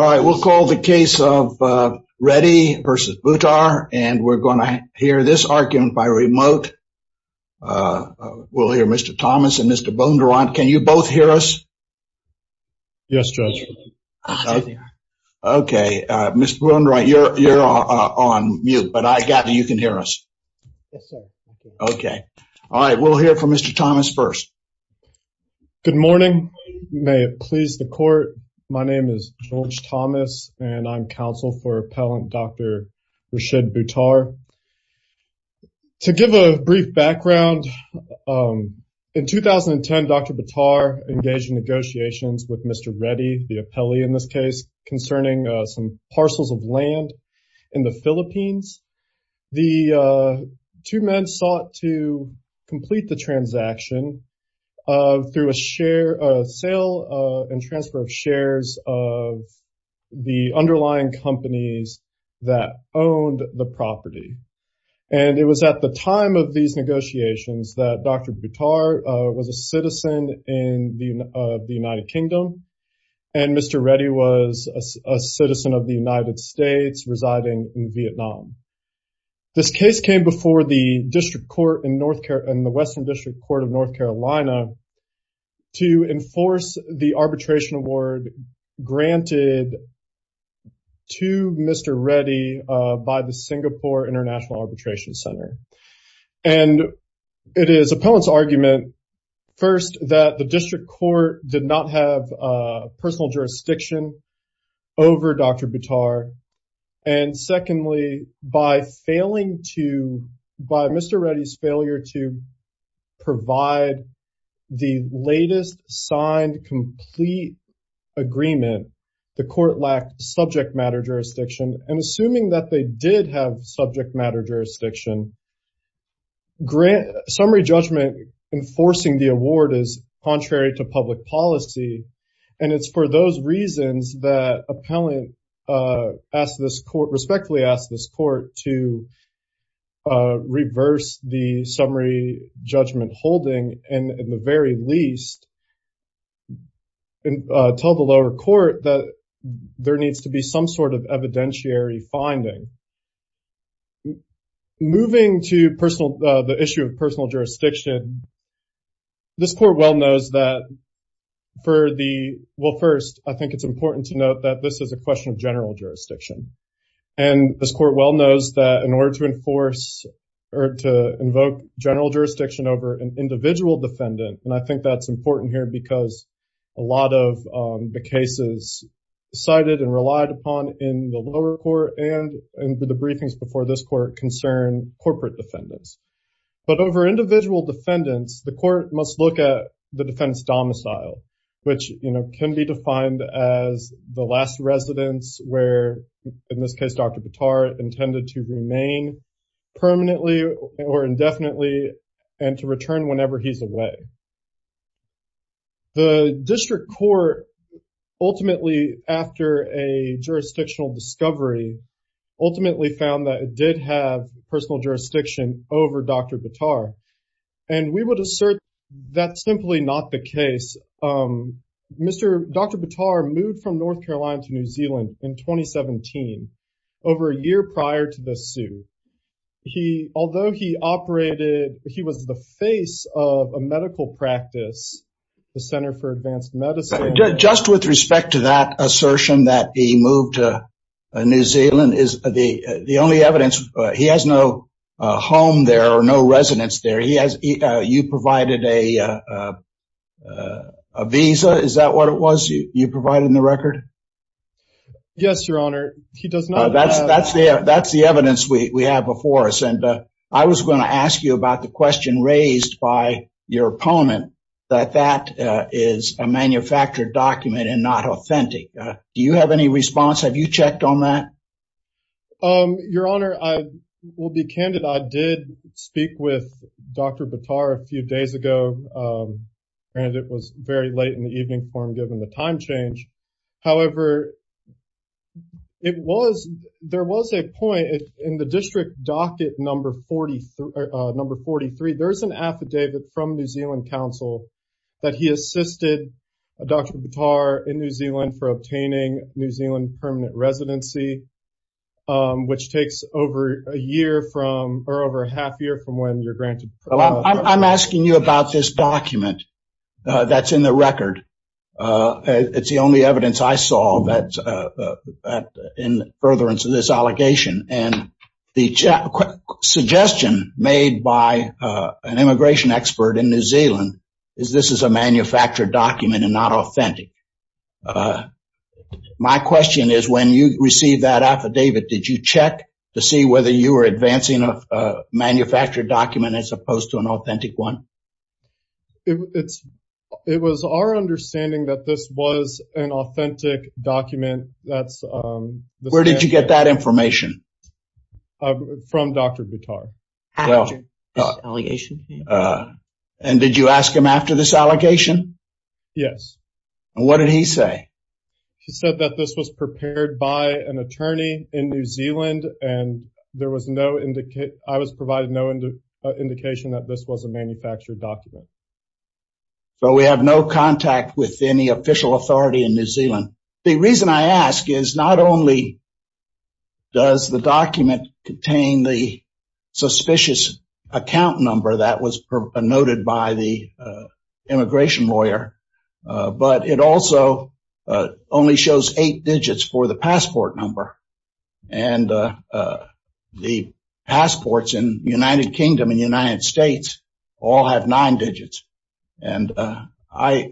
All right, we'll call the case of Reddy v. Buttar and we're going to hear this argument by remote. We'll hear Mr. Thomas and Mr. Bondurant. Can you both hear us? Yes, Judge. Okay, Mr. Bondurant, you're on mute, but I gather you can hear us. Okay. All right, we'll hear from Mr. Thomas first. Good morning. May it please the court. My name is George Thomas and I'm counsel for appellant Dr. Rashid Buttar. To give a brief background, in 2010, Dr. Buttar engaged in negotiations with Mr. Reddy, the appellee in this case, concerning some parcels of land in the Philippines. The two men sought to the underlying companies that owned the property. And it was at the time of these negotiations that Dr. Buttar was a citizen of the United Kingdom and Mr. Reddy was a citizen of the United States residing in Vietnam. This case came before the district court in the Western District Court of North Carolina to enforce the arbitration award granted to Mr. Reddy by the Singapore International Arbitration Center. And it is appellant's argument, first, that the district court did not have personal jurisdiction over Dr. Buttar. And secondly, by failing to, by Mr. Reddy's failure to provide the latest signed complete agreement, the court lacked subject matter jurisdiction. And assuming that they did have subject matter jurisdiction, summary judgment enforcing the award is contrary to public policy. And it's for those reasons that appellant respectfully asked this court to reverse the summary judgment holding, and in the very least, tell the lower court that there needs to be some sort of evidentiary finding. Moving to the issue of personal jurisdiction, this court well knows that for the, well, first, I think it's important to note that this is a question of general jurisdiction. And this court well knows that in order to enforce or to invoke general jurisdiction over an individual defendant, and I think that's important here because a lot of the cases cited and relied upon in the lower court and in the briefings before this court concern corporate defendants. But over individual defendants, the court must look at the defendant's domicile, which can be defined as the last residence where, in this case, Dr. Buttar intended to remain permanently or indefinitely and to return whenever he's away. The district court ultimately, after a jurisdictional discovery, ultimately found that it did have personal jurisdiction over Dr. Buttar. And we would assert that's simply not the case. Mr. Dr. Buttar moved from North Carolina to New Zealand in 2017, over a year prior to the suit. He, although he operated, he was the face of a medical practice, the Center for Advanced Medicine. Just with respect to that assertion that he moved to New Zealand is the only evidence. He has no home there or no residence there. He has, you provided a visa. Is that what it was you provided in the record? Yes, Your Honor, he does not. That's the evidence we have before us. And I was going to ask you about the question raised by your opponent, that that is a manufactured document and not authentic. Do you have any response? Have you checked on that? Um, Your Honor, I will be candid. I did speak with Dr. Buttar a few days ago. And it was very late in the evening for him, given the time change. However, it was, there was a point in the district docket number 43, number 43. There's an affidavit from New Zealand Council that he assisted Dr. Buttar in New Zealand for obtaining New Zealand permanent residency, which takes over a year from or over a half year from when you're granted. Well, I'm asking you about this document. That's in the record. It's the only evidence I saw that in furtherance of this allegation and the suggestion made by an immigration expert in New Zealand is this is a manufactured document and not authentic. My question is, when you received that affidavit, did you check to see whether you were advancing a manufactured document as opposed to an authentic one? It's, it was our understanding that this was an authentic document. That's Where did you get that information? From Dr. Buttar. After this allegation? And did you ask him after this allegation? Yes. And what did he say? He said that this was prepared by an attorney in New Zealand. And there was no indication, I was provided no indication that this was a manufactured document. So we have no contact with any official authority in New Zealand. The reason I ask is not only does the document contain the suspicious account number that was noted by the immigration lawyer, but it also only shows eight digits for the passport number. And the passports in United Kingdom and United States all have nine digits. And I,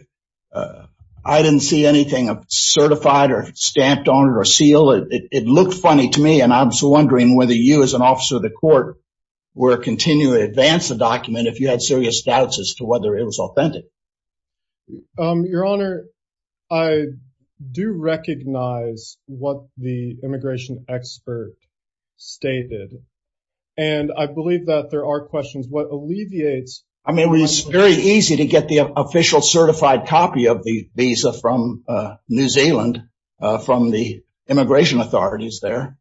I didn't see anything of certified or stamped on it or seal it. It looked funny to me. And I was wondering whether you as an officer of the court, were continuing to advance the document if you had serious doubts as to whether it was authentic. Your Honor, I do recognize what the immigration expert stated. And I believe that there are questions what alleviates I mean, it was very easy to get the official certified copy of the visa from New Zealand, from the immigration authorities there.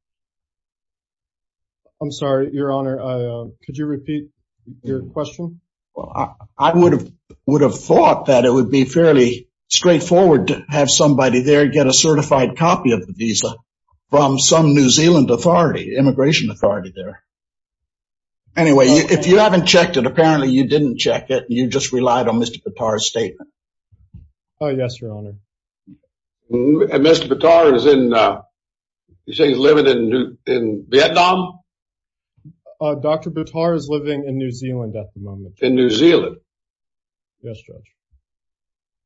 I'm sorry, Your Honor. Could you repeat your question? Well, I would have would have thought that it would be fairly straightforward to have somebody there get a certified copy of the visa from some New Zealand authority immigration authority there. Anyway, if you haven't checked it, apparently you didn't check it. You just relied on Mr. Patar's statement. Oh, yes, Your Honor. And Mr. Patar is in, you say he's living in Vietnam? Dr. Patar is living in New Zealand at the moment. In New Zealand? Yes, Judge.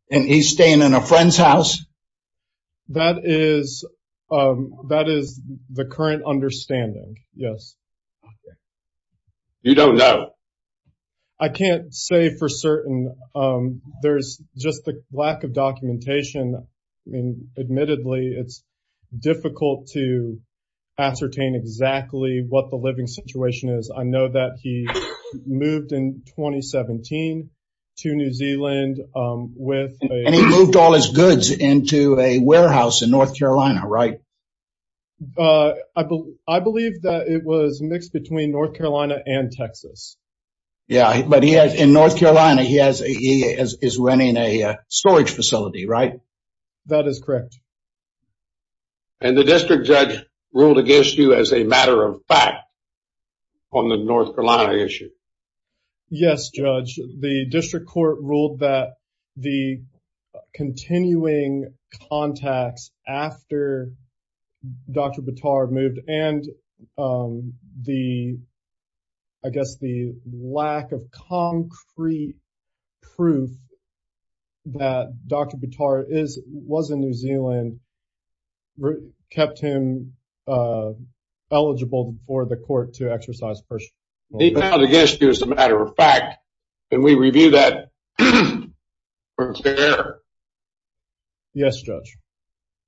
And he's staying in a friend's house? That is, that is the current understanding. Yes. You don't know? I can't say for certain. There's just the lack of documentation. I mean, admittedly, it's difficult to ascertain exactly what the living situation is. I know that he moved in 2017 to New Zealand with And he moved all his goods into a warehouse in North Carolina, right? But I believe that it was mixed between North Carolina and Texas. Yeah, but he has in North Carolina, he has a he is running a storage facility, right? That is correct. And the district judge ruled against you as a matter of fact, on the North Carolina issue. Yes, Judge, the district court ruled that the continuing contacts after Dr. Patar moved and the, I guess the lack of concrete proof that Dr. Patar is was in New Zealand, kept him eligible for the court to exercise personal. He found against you as a matter of fact, and we review that. Yes, Judge.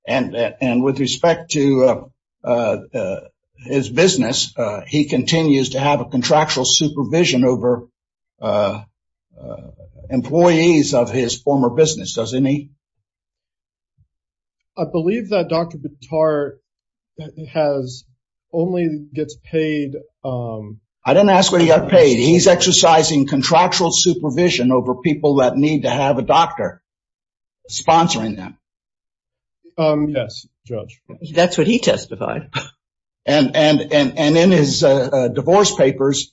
And with respect to his business, he continues to have a contractual supervision over employees of his former business, doesn't he? I believe that Dr. Patar has only gets paid. I didn't ask what he got paid. He's exercising contractual supervision over people that need to have a doctor sponsoring them. Yes, Judge. That's what he testified. And and and and in his divorce papers,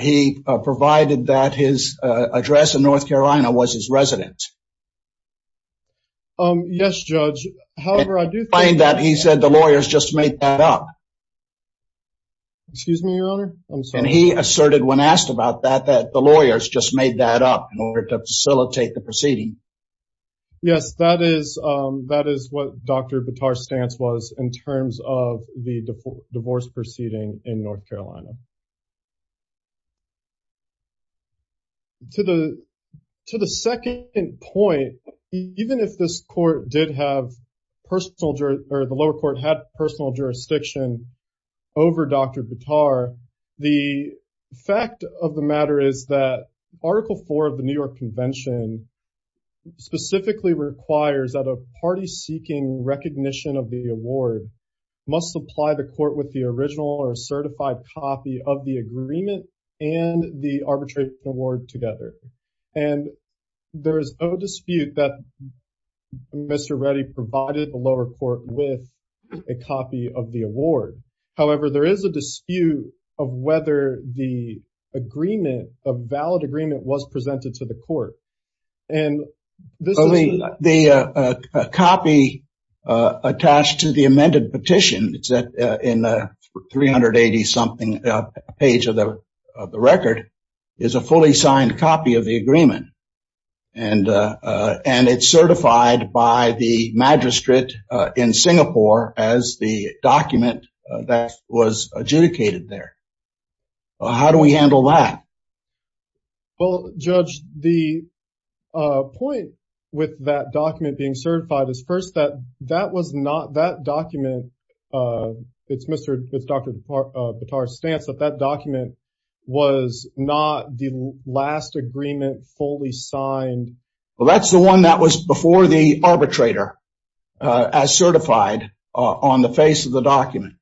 he provided that his address in North Carolina was his residence. Yes, Judge. However, I do find that he said the lawyers just made that up. Excuse me, Your Honor. And he asserted when asked about that, that the lawyers just made that up in order to facilitate the proceeding. Yes, that is that is what Dr. Patar's stance was in terms of the divorce proceeding in North Carolina. To the to the second point, even if this court did have personal or the lower court had personal jurisdiction over Dr. Patar, the fact of the matter is that Article four of the New York Convention specifically requires that a party seeking recognition of the award must supply the copy of the agreement and the arbitration award together. And there is no dispute that Mr. Reddy provided the lower court with a copy of the award. However, there is a dispute of whether the agreement, a valid agreement, was presented to the court. And the copy attached to the amended petition in the 380 something page of the record is a fully signed copy of the agreement. And and it's certified by the magistrate in Singapore as the document that was adjudicated there. How do we handle that? Well, Judge, the point with that document being certified is first that that was not that document. It's Mr. Dr. Patar's stance that that document was not the last agreement fully signed. Well, that's the one that was before the arbitrator as certified on the face of the document.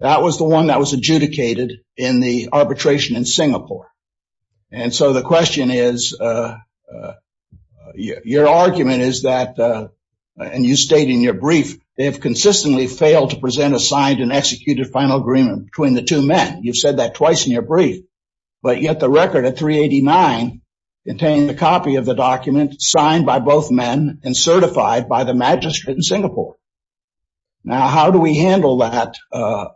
That was the one that was adjudicated in the arbitration in Singapore. And so the question is, your argument is that and you state in your brief, they have consistently failed to present a signed and executed final agreement between the two men. You've said that twice in your brief. But yet the record at 389 contained the copy of the document signed by both men and certified by the magistrate in Singapore. Now, how do we handle that?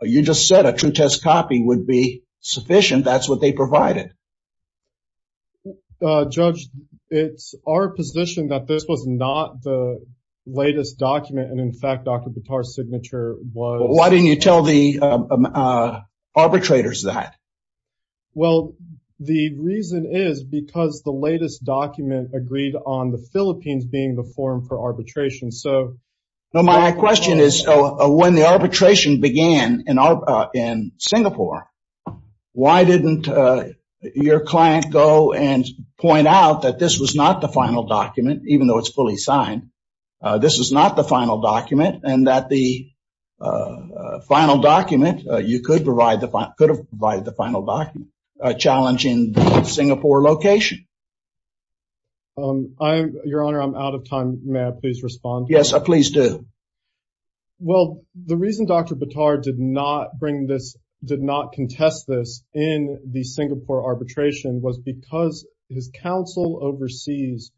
You just said a true test copy would be sufficient. That's what they provided. Well, Judge, it's our position that this was not the latest document. And in fact, Dr. Patar's signature was. Why didn't you tell the arbitrators that? Well, the reason is because the latest document agreed on the Philippines being the forum for arbitration. So. No, my question is, when the arbitration began in Singapore, why didn't your client go and point out that this was not the final document, even though it's fully signed? This is not the final document and that the final document, you could have provided the final document challenging Singapore location. Your Honor, I'm out of time. May I please respond? Yes, please do. Well, the reason Dr. Patar did not bring this, did not contest this in the Singapore arbitration was because his counsel overseas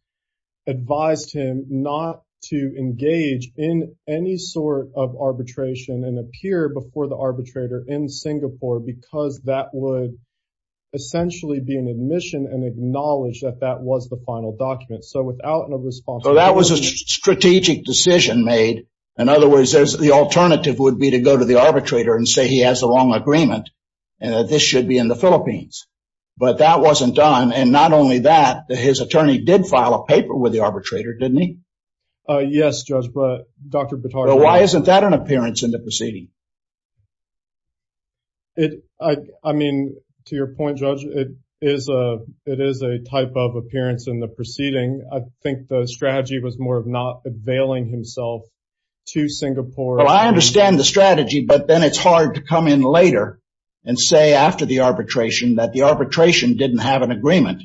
advised him not to engage in any sort of arbitration and appear before the arbitrator in Singapore because that would essentially be an admission and acknowledge that that was the final document. So without a response, that was a strategic decision made. In other words, the alternative would be to go to the arbitrator and say he has a long agreement and that this should be in the Philippines. But that wasn't done. And not only that, his attorney did file a paper with the arbitrator, didn't he? Yes, Judge, but Dr. Patar, why isn't that an appearance in the proceeding? I mean, to your point, Judge, it is a it is a type of appearance in the proceeding. I think the strategy was more of not availing himself to Singapore. Well, I understand the strategy, but then it's hard to come in later and say after the arbitration that the arbitration didn't have an agreement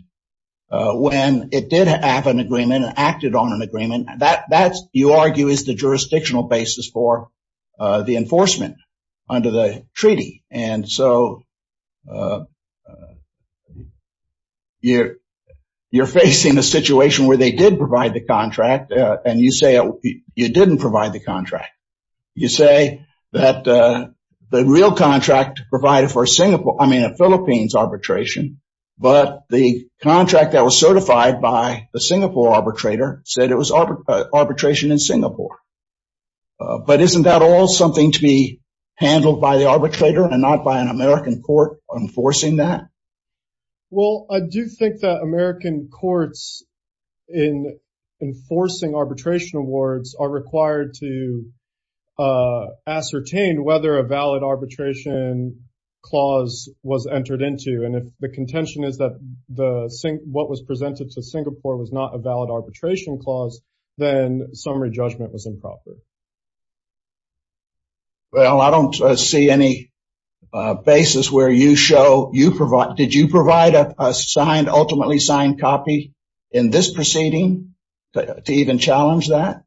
when it did have an agreement and acted on an agreement that that's, you argue, is the jurisdictional basis for the enforcement under the treaty. And so you're facing a situation where they did provide the contract and you say you didn't provide the contract. You say that the real contract provided for Singapore, I mean, a Philippines arbitration. But the contract that was certified by the Singapore arbitrator said it was arbitration in Singapore. But isn't that all something to be handled by the arbitrator and not by an American court enforcing that? Well, I do think that American courts in enforcing arbitration awards are required to ascertain whether a valid arbitration clause was entered into. And if the contention is that what was presented to Singapore was not a valid arbitration clause, then summary judgment was improper. Well, I don't see any basis where you show you provide, did you provide a signed, ultimately signed copy in this proceeding to even challenge that?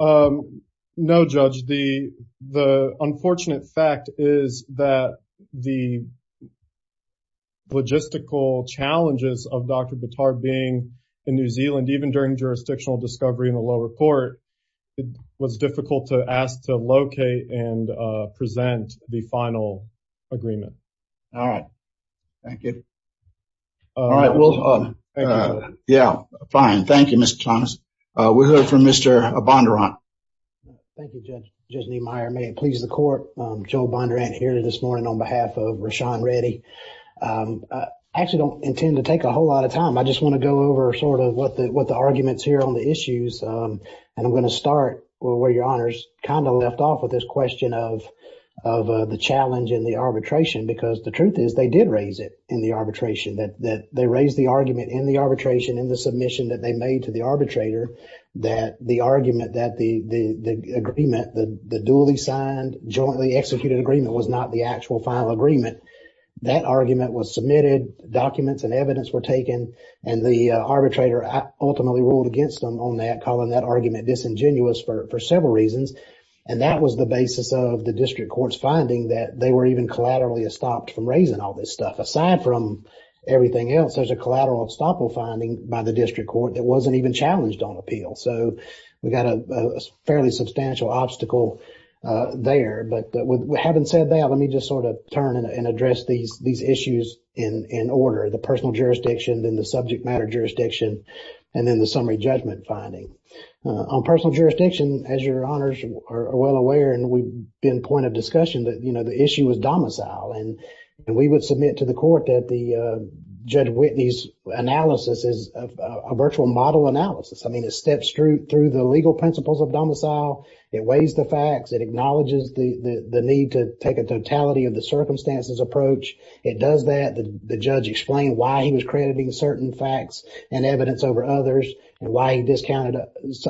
No, Judge, the the unfortunate fact is that the logistical challenges of Dr. Bondurant's jurisdictional discovery in the lower court, it was difficult to ask to locate and present the final agreement. All right. Thank you. All right. Well, yeah, fine. Thank you, Mr. Thomas. We'll hear from Mr. Bondurant. Thank you, Judge. Judge Niemeyer, may it please the court, Joe Bondurant here this morning on behalf of Rashan Reddy. I actually don't intend to take a whole lot of time. I just want to go over sort of what the what the arguments here on the issues. And I'm going to start where your honors kind of left off with this question of of the challenge in the arbitration, because the truth is they did raise it in the arbitration that that they raised the argument in the arbitration, in the submission that they made to the arbitrator, that the argument that the agreement, the duly signed, jointly executed agreement was not the actual final agreement. That argument was submitted, documents and evidence were taken, and the arbitrator ultimately ruled against them on that, calling that argument disingenuous for several reasons. And that was the basis of the district court's finding that they were even collaterally stopped from raising all this stuff. Aside from everything else, there's a collateral stoppable finding by the district court that wasn't even challenged on appeal. So we've got a fairly substantial obstacle there. But having said that, let me just sort of turn and address these these issues in order, the personal jurisdiction, then the subject matter jurisdiction, and then the summary judgment finding on personal jurisdiction. As your honors are well aware, and we've been point of discussion that, you know, the issue was domicile. And we would submit to the court that the Judge Whitney's analysis is a virtual model analysis. I mean, it steps through through the legal principles of domicile. It weighs the facts. It acknowledges the need to take a totality of the circumstances approach. It does that. The judge explained why he was crediting certain facts and evidence over others and why he discounted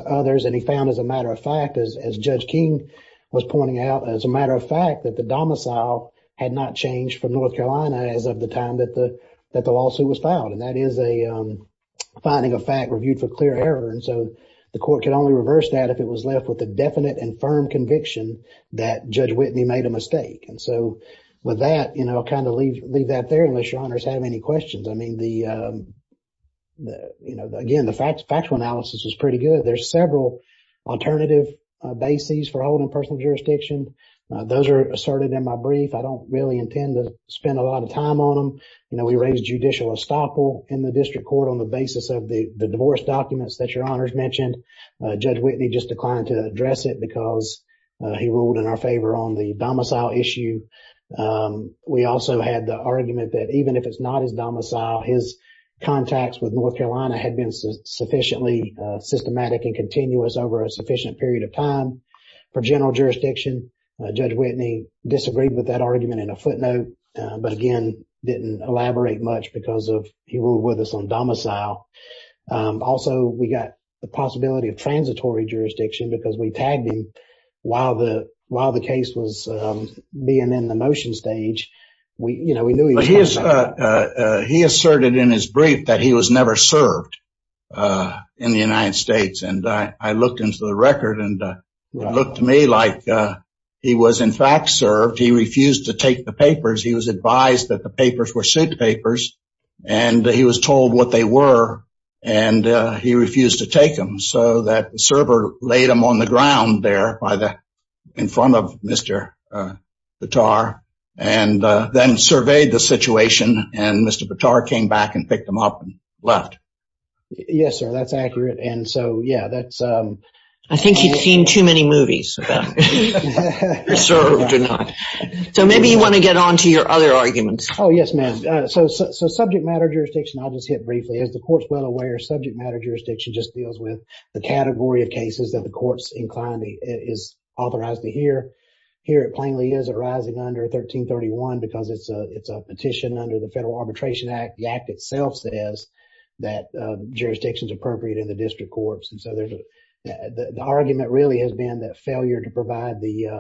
others. And he found, as a matter of fact, as Judge King was pointing out, as a matter of fact, that the domicile had not changed from North Carolina as of the time that the that the lawsuit was filed. And that is a finding of fact reviewed for clear error. And so the court could only reverse that if it was left with a definite and firm conviction that Judge Whitney made a mistake. And so with that, you know, kind of leave that there unless your honors have any questions. I mean, the you know, again, the factual analysis is pretty good. There's several alternative bases for holding personal jurisdiction. Those are asserted in my brief. I don't really intend to spend a lot of time on them. You know, we raised judicial estoppel in the district court on the basis of the divorce documents that your honors mentioned. Judge Whitney just declined to address it because he ruled in our favor on the domicile issue. We also had the argument that even if it's not his domicile, his contacts with North Carolina had been sufficiently systematic and continuous over a sufficient period of time for general jurisdiction. Judge Whitney disagreed with that argument in a footnote, but again, didn't elaborate much because of he ruled with us on domicile. Also, we got the possibility of transitory jurisdiction because we tagged him while the while the case was being in the motion stage. We, you know, we knew he asserted in his brief that he was never served in the United States. And I looked into the record and it looked to me like he was, in fact, served. He refused to take the papers. He was advised that the papers were suit papers and he was told what they were and he refused to take them. So that the server laid them on the ground there by the in front of Mr. Bitar and then surveyed the situation. And Mr. Bitar came back and picked them up and left. Yes, sir. That's accurate. And so, yeah, that's I think he'd seen too many movies. So maybe you want to get on to your other arguments. Oh, yes, ma'am. So subject matter jurisdiction, I'll just hit briefly as the court's well aware, subject matter jurisdiction just deals with the category of cases that the court's inclined is authorized to hear. Here at Plainly is it rising under 1331 because it's a it's a petition under the Federal Arbitration Act. The act itself says that jurisdiction is appropriate in the district courts. And so the argument really has been that failure to provide the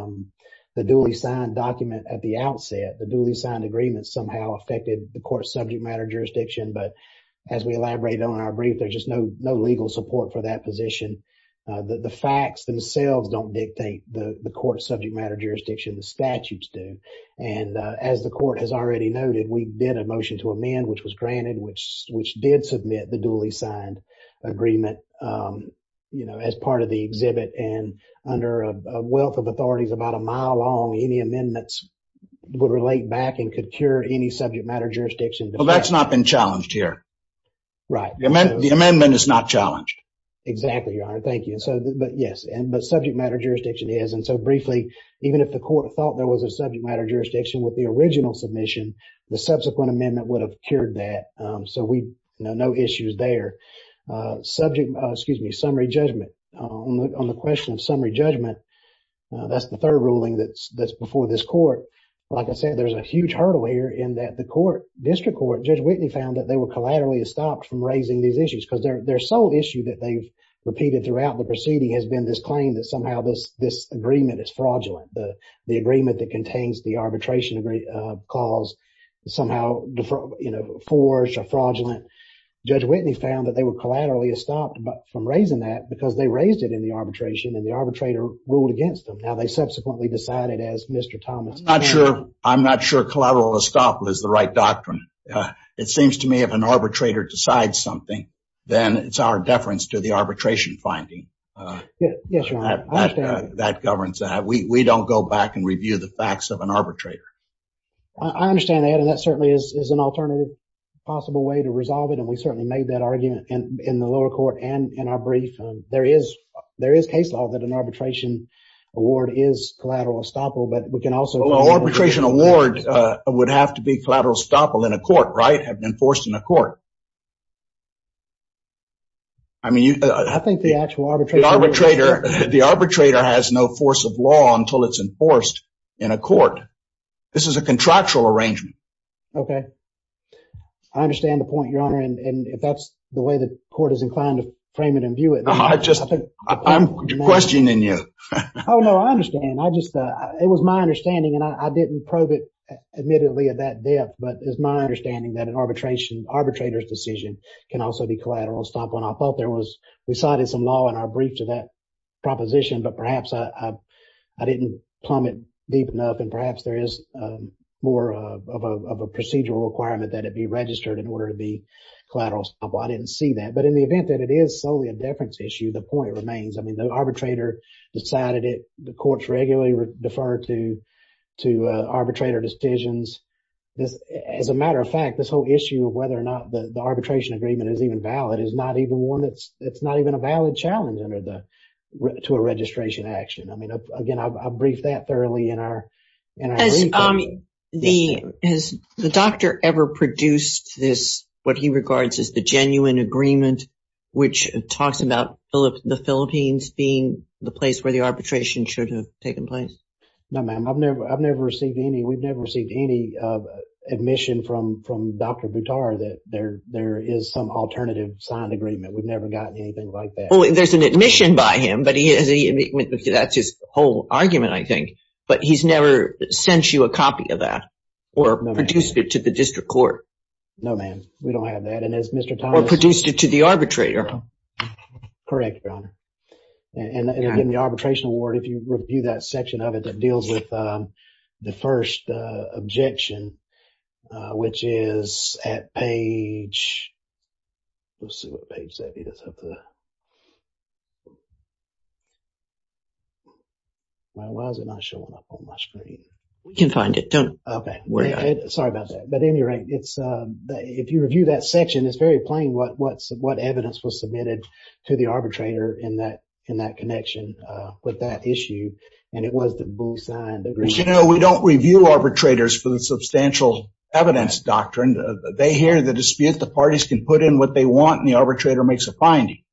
the duly signed document at the outset, the duly signed agreement somehow affected the court subject matter jurisdiction. But as we elaborate on our brief, there's just no no legal support for that position. The facts themselves don't dictate the court subject matter jurisdiction. The statutes do. And as the court has already noted, we did a motion to amend which was granted, which which did submit the duly signed agreement, you know, as part of the exhibit. And under a wealth of authorities about a mile long, any amendments would relate back and could cure any subject matter jurisdiction. That's not been challenged here. Right. The amendment is not challenged. Exactly. Thank you. So yes, and the subject matter jurisdiction is. And so briefly, even if the court thought there was a subject matter jurisdiction with the original submission, the subsequent amendment would have cured that. So we know no issues there. Subject. Excuse me. Summary judgment on the question of summary judgment. That's the third ruling that's that's before this court. Like I said, there's a huge hurdle here in that the court district court, Judge Whitney found that they were collaterally stopped from raising these issues because their sole issue that they've repeated throughout the proceeding has been this claim that somehow this this agreement is fraudulent. The agreement that contains the arbitration cause somehow, you know, forged or fraudulent. Judge Whitney found that they were collaterally stopped from raising that because they raised it in the arbitration and the arbitrator ruled against them. Now, they subsequently decided as Mr. Thomas. I'm not sure. I'm not sure collateral estoppel is the right doctrine. It seems to me if an arbitrator decides something, then it's our deference to the arbitration finding that governs that. We don't go back and review the facts of an arbitrator. I understand that. And that certainly is an alternative possible way to resolve it. And we certainly made that argument in the lower court. And in our brief, there is there is case law that an arbitration award is collateral estoppel. But we can also arbitration award would have to be collateral estoppel in a court, right? Have been forced in a court. I mean, I think the actual arbitration arbitrator, the arbitrator has no force of law until it's enforced in a court. This is a contractual arrangement. OK, I understand the point, your honor. And if that's the way the court is inclined to frame it and view it, I just I'm questioning you. Oh, no, I understand. I just it was my understanding and I didn't probe it admittedly at that depth. But it's my understanding that an arbitration arbitrator's decision can also be collateral estoppel. And I thought there was we cited some law in our brief to that I didn't plumb it deep enough. And perhaps there is more of a procedural requirement that it be registered in order to be collateral estoppel. I didn't see that. But in the event that it is solely a deference issue, the point remains, I mean, the arbitrator decided it. The courts regularly defer to to arbitrator decisions. This as a matter of fact, this whole issue of whether or not the arbitration agreement is even valid is not even one that's it's not even a valid challenge under the to a registration action. I mean, again, I've briefed that thoroughly in our and I mean, the is the doctor ever produced this what he regards as the genuine agreement, which talks about the Philippines being the place where the arbitration should have taken place. No, ma'am, I've never I've never received any. We've never received any admission from from Dr. Buttar that there there is some alternative signed agreement. We've never gotten anything like that. There's an admission by him, but he has he that's his whole argument, I think. But he's never sent you a copy of that or produced it to the district court. No, ma'am, we don't have that. And as Mr. Thomas produced it to the arbitrator. Correct, Your Honor. And in the arbitration award, if you review that section of it that deals with the first objection, which is at page. We'll see what page that is. Why was it not showing up on my screen? We can find it. Don't worry. Sorry about that. But anyway, it's if you review that section, it's very plain what what's what evidence was submitted to the arbitrator in that in that connection with that issue. And it was the bulls eye. And, you know, we don't review arbitrators for the substantial evidence doctrine. They hear the dispute. The parties can put in what they want. And the arbitrator makes a finding.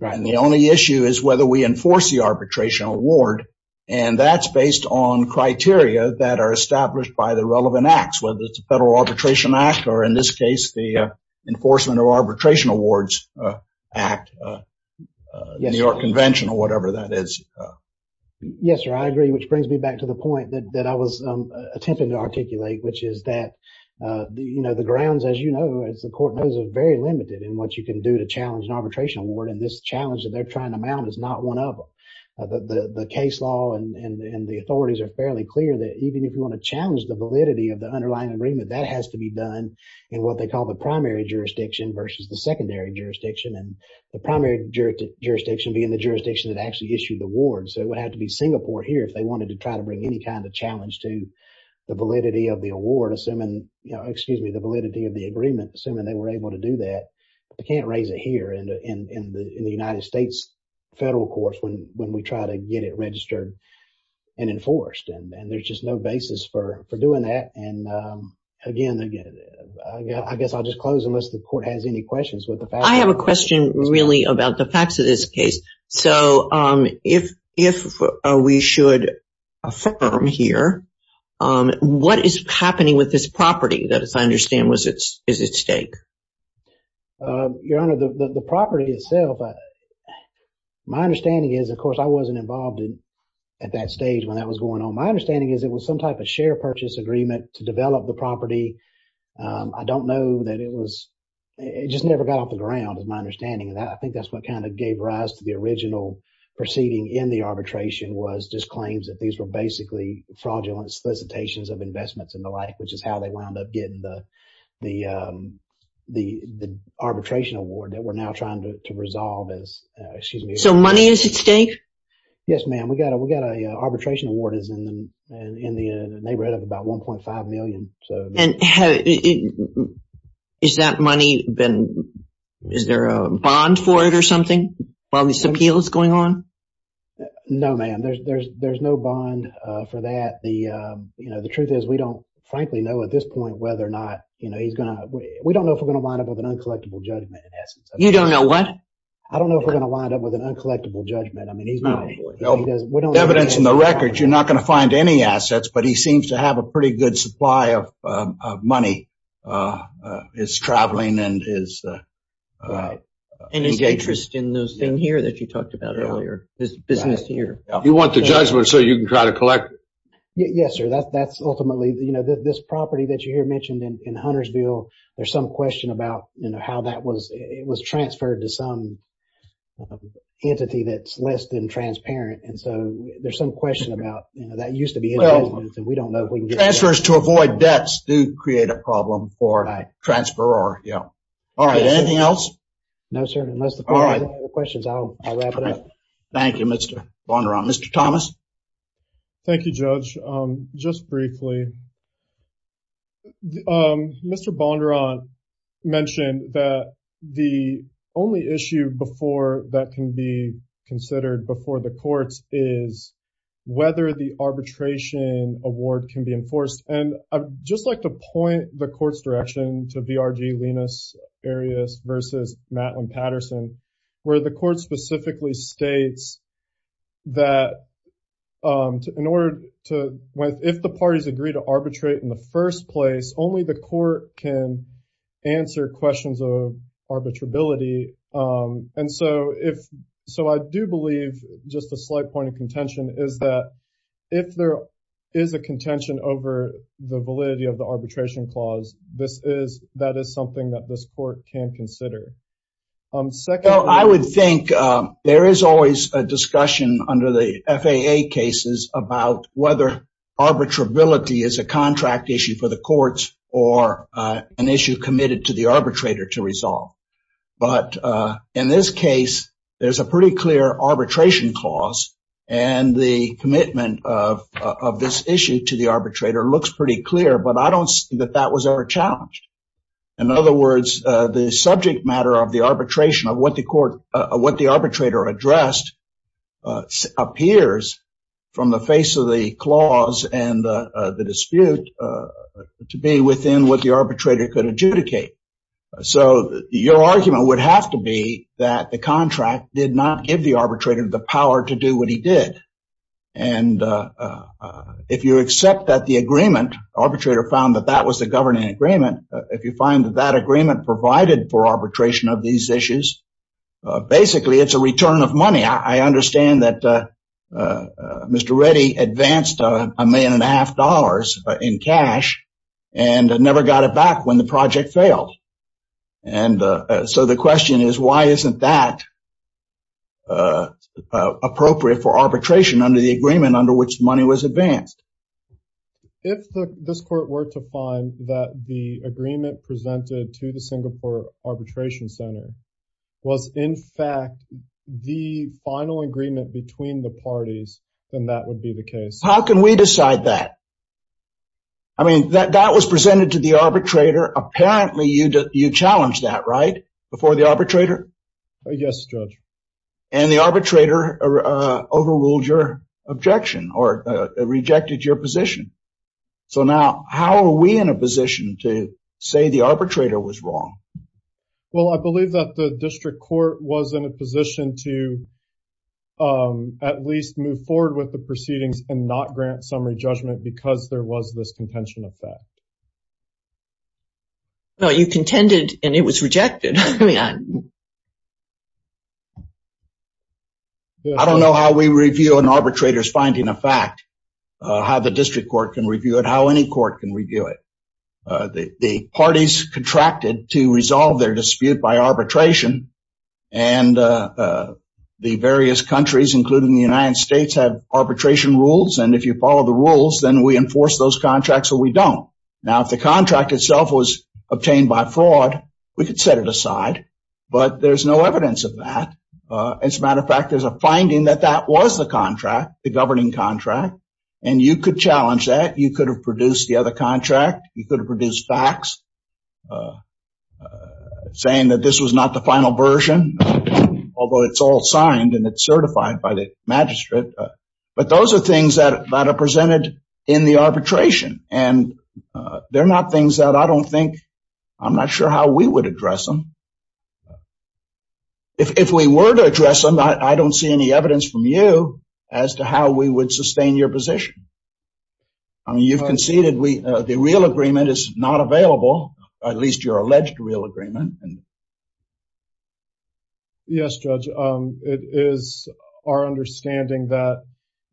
And the only issue is whether we enforce the arbitration award. And that's based on criteria that are established by the relevant acts, whether it's the Federal Arbitration Act or in this case, the Enforcement of Arbitration Awards Act, New York Convention or whatever that is. Yes, sir. I agree. Which brings me back to the point that I was attempting to address earlier. The grounds, as you know, as the court knows, are very limited in what you can do to challenge an arbitration award. And this challenge that they're trying to mount is not one of the case law. And the authorities are fairly clear that even if you want to challenge the validity of the underlying agreement, that has to be done in what they call the primary jurisdiction versus the secondary jurisdiction and the primary jurisdiction being the jurisdiction that actually issued the award. So it would have to be Singapore here if they wanted to try to bring any kind of validity of the agreement, assuming they were able to do that. They can't raise it here in the United States federal courts when we try to get it registered and enforced. And there's just no basis for doing that. And again, I guess I'll just close unless the court has any questions. I have a question really about the facts of this case. So if we should affirm here, what is happening with this property that I understand is at stake? Your Honor, the property itself, my understanding is, of course, I wasn't involved at that stage when that was going on. My understanding is it was some type of share purchase agreement to develop the property. I don't know that it was, it just never got off the ground is my understanding of that. I think that's what kind of gave rise to the original proceeding in the arbitration was just claims that these were basically fraudulent solicitations of investments and the like, which is how they wound up getting the arbitration award that we're now trying to resolve as, excuse me. So money is at stake? Yes, ma'am. We got a, we got a arbitration award is in the neighborhood of about 1.5 million. And is that money been, is there a bond for it or something while this appeal is going on? No, ma'am. There's, there's, there's no bond for that. The, you know, the truth is we don't frankly know at this point whether or not, you know, he's going to, we don't know if we're going to wind up with an uncollectible judgment in essence. You don't know what? I don't know if we're going to wind up with an uncollectible judgment. I mean, he's not. Evidence in the records, you're not going to find any assets, but he seems to have a pretty good supply of money, his traveling and his interest in those things here that you talked about earlier, his business here. You want the judgment so you can try to collect? Yes, sir. That's, that's ultimately, you know, this property that you hear mentioned in Huntersville, there's some question about, you know, how that was, it was transferred to some entity that's less than transparent. And so there's some question about, you know, that used to be in residence and we don't know if we can get that. Transfers to avoid debts do create a problem for a transferor. Yeah. All right. Anything else? No, sir. Unless the questions, I'll wrap it up. Thank you, Mr. Bondurant. Mr. Thomas. Thank you, Judge. Just briefly. Mr. Bondurant mentioned that the only issue before that can be considered before the courts is whether the arbitration award can be enforced. And I'd just like to point the court's direction to BRG, Linus Arias versus Matlin Patterson, where the court specifically states that in order to, if the parties agree to arbitrate in the first place, only the court can answer questions of arbitrability. And so if so, I do believe just a slight point of contention is that if there is a the validity of the arbitration clause, this is that is something that this court can consider. Second, I would think there is always a discussion under the FAA cases about whether arbitrability is a contract issue for the courts or an issue committed to the arbitrator to resolve. But in this case, there's a pretty clear arbitration clause and the commitment of this issue to the arbitrator looks pretty clear, but I don't see that that was ever challenged. In other words, the subject matter of the arbitration of what the court what the arbitrator addressed appears from the face of the clause and the dispute to be within what the arbitrator could adjudicate. So your argument would have to be that the contract did not give the arbitrator the And if you accept that the agreement arbitrator found that that was the governing agreement, if you find that that agreement provided for arbitration of these issues, basically it's a return of money. I understand that Mr. Reddy advanced a million and a half dollars in cash and never got it back when the project failed. And so the question is, why isn't that appropriate for arbitration under the agreement under which money was advanced? If this court were to find that the agreement presented to the Singapore Arbitration Center was, in fact, the final agreement between the parties, then that would be the case. How can we decide that? I mean, that was presented to the arbitrator. Apparently you challenged that, right? Before the arbitrator? Yes, judge. And the arbitrator overruled your objection or rejected your position. So now how are we in a position to say the arbitrator was wrong? Well, I believe that the district court was in a position to at least move forward with the proceedings and not grant summary judgment because there was this contention of that. No, you contended and it was rejected. I don't know how we review an arbitrator's finding a fact, how the district court can review it, how any court can review it. The parties contracted to resolve their dispute by arbitration and the various countries, including the United States, have arbitration rules. And if you follow the rules, then we enforce those contracts or we don't. Now, if the contract itself was obtained by fraud, we could set it aside, but there's no evidence of that. As a matter of fact, there's a finding that that was the contract, the governing contract, and you could challenge that. You could have produced the other contract. You could have produced facts saying that this was not the final version, although it's all signed and it's certified by the magistrate. But those are things that are presented in the arbitration. And they're not things that I don't think, I'm not sure how we would address them. If we were to address them, I don't see any evidence from you as to how we would sustain your position. I mean, you've conceded the real agreement is not available, at least your alleged real agreement. Yes, Judge. It is our understanding that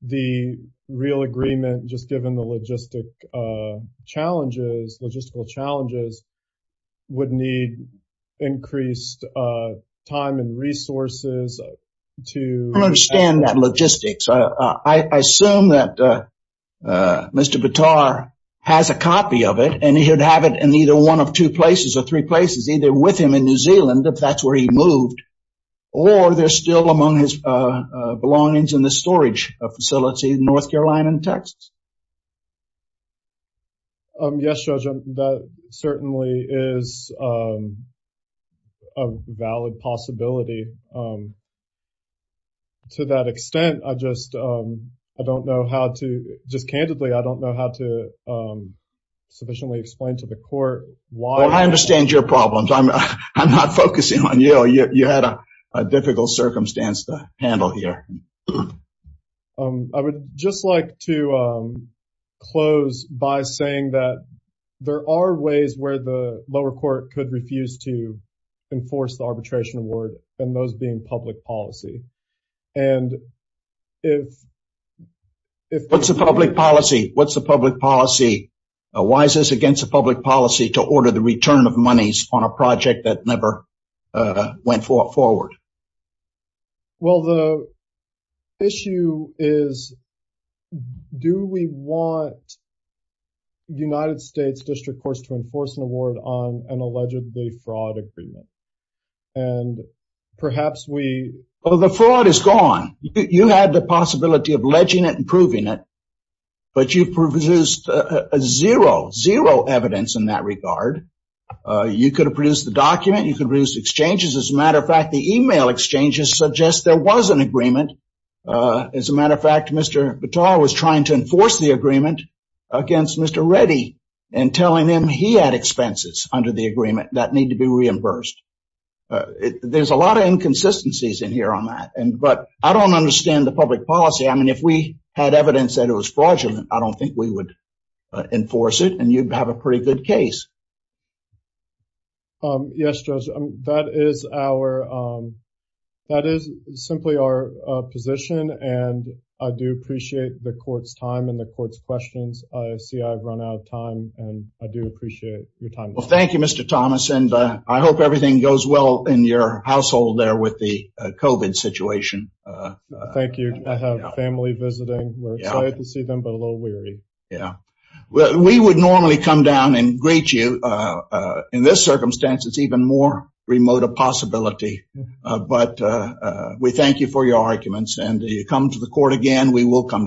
the real agreement, just given the logistic challenges, logistical challenges, would need increased time and resources to... I don't understand that logistics. I assume that Mr. Bitar has a copy of it and he'd have it in either one of two places or three Are there still among his belongings in the storage facility in North Carolina and Texas? Yes, Judge, that certainly is a valid possibility. To that extent, I just, I don't know how to, just candidly, I don't know how to sufficiently explain to the court why... Well, I understand your problems. I'm not focusing on you. You had a difficult circumstance to handle here. I would just like to close by saying that there are ways where the lower court could refuse to enforce the arbitration award and those being public policy. And if... What's the public policy? What's the public policy? Why is this against the public policy to order the return of monies on a project that never went forward? Well, the issue is, do we want United States District Courts to enforce an award on an allegedly fraud agreement? And perhaps we... Oh, the fraud is gone. You had the possibility of ledging it and proving it, but you produced a zero, zero evidence in that regard. You could have produced the document. You could produce exchanges. As a matter of fact, the email exchanges suggest there was an agreement. As a matter of fact, Mr. Batal was trying to enforce the agreement against Mr. Reddy and telling him he had expenses under the agreement that need to be reimbursed. There's a lot of inconsistencies in here on that, but I don't understand the public policy. I mean, if we had evidence that it was fraudulent, I don't think we would enforce it and you'd have a pretty good case. Yes, Judge, that is simply our position, and I do appreciate the court's time and the court's questions. I see I've run out of time, and I do appreciate your time. Well, thank you, Mr. Thomas, and I hope everything goes well in your household there with the COVID situation. Thank you. I have family visiting. We're excited to see them, but a little weary. Yeah. We would normally come down and greet you. In this circumstance, it's even more remote a possibility, but we thank you for your arguments. And you come to the court again, we will come down.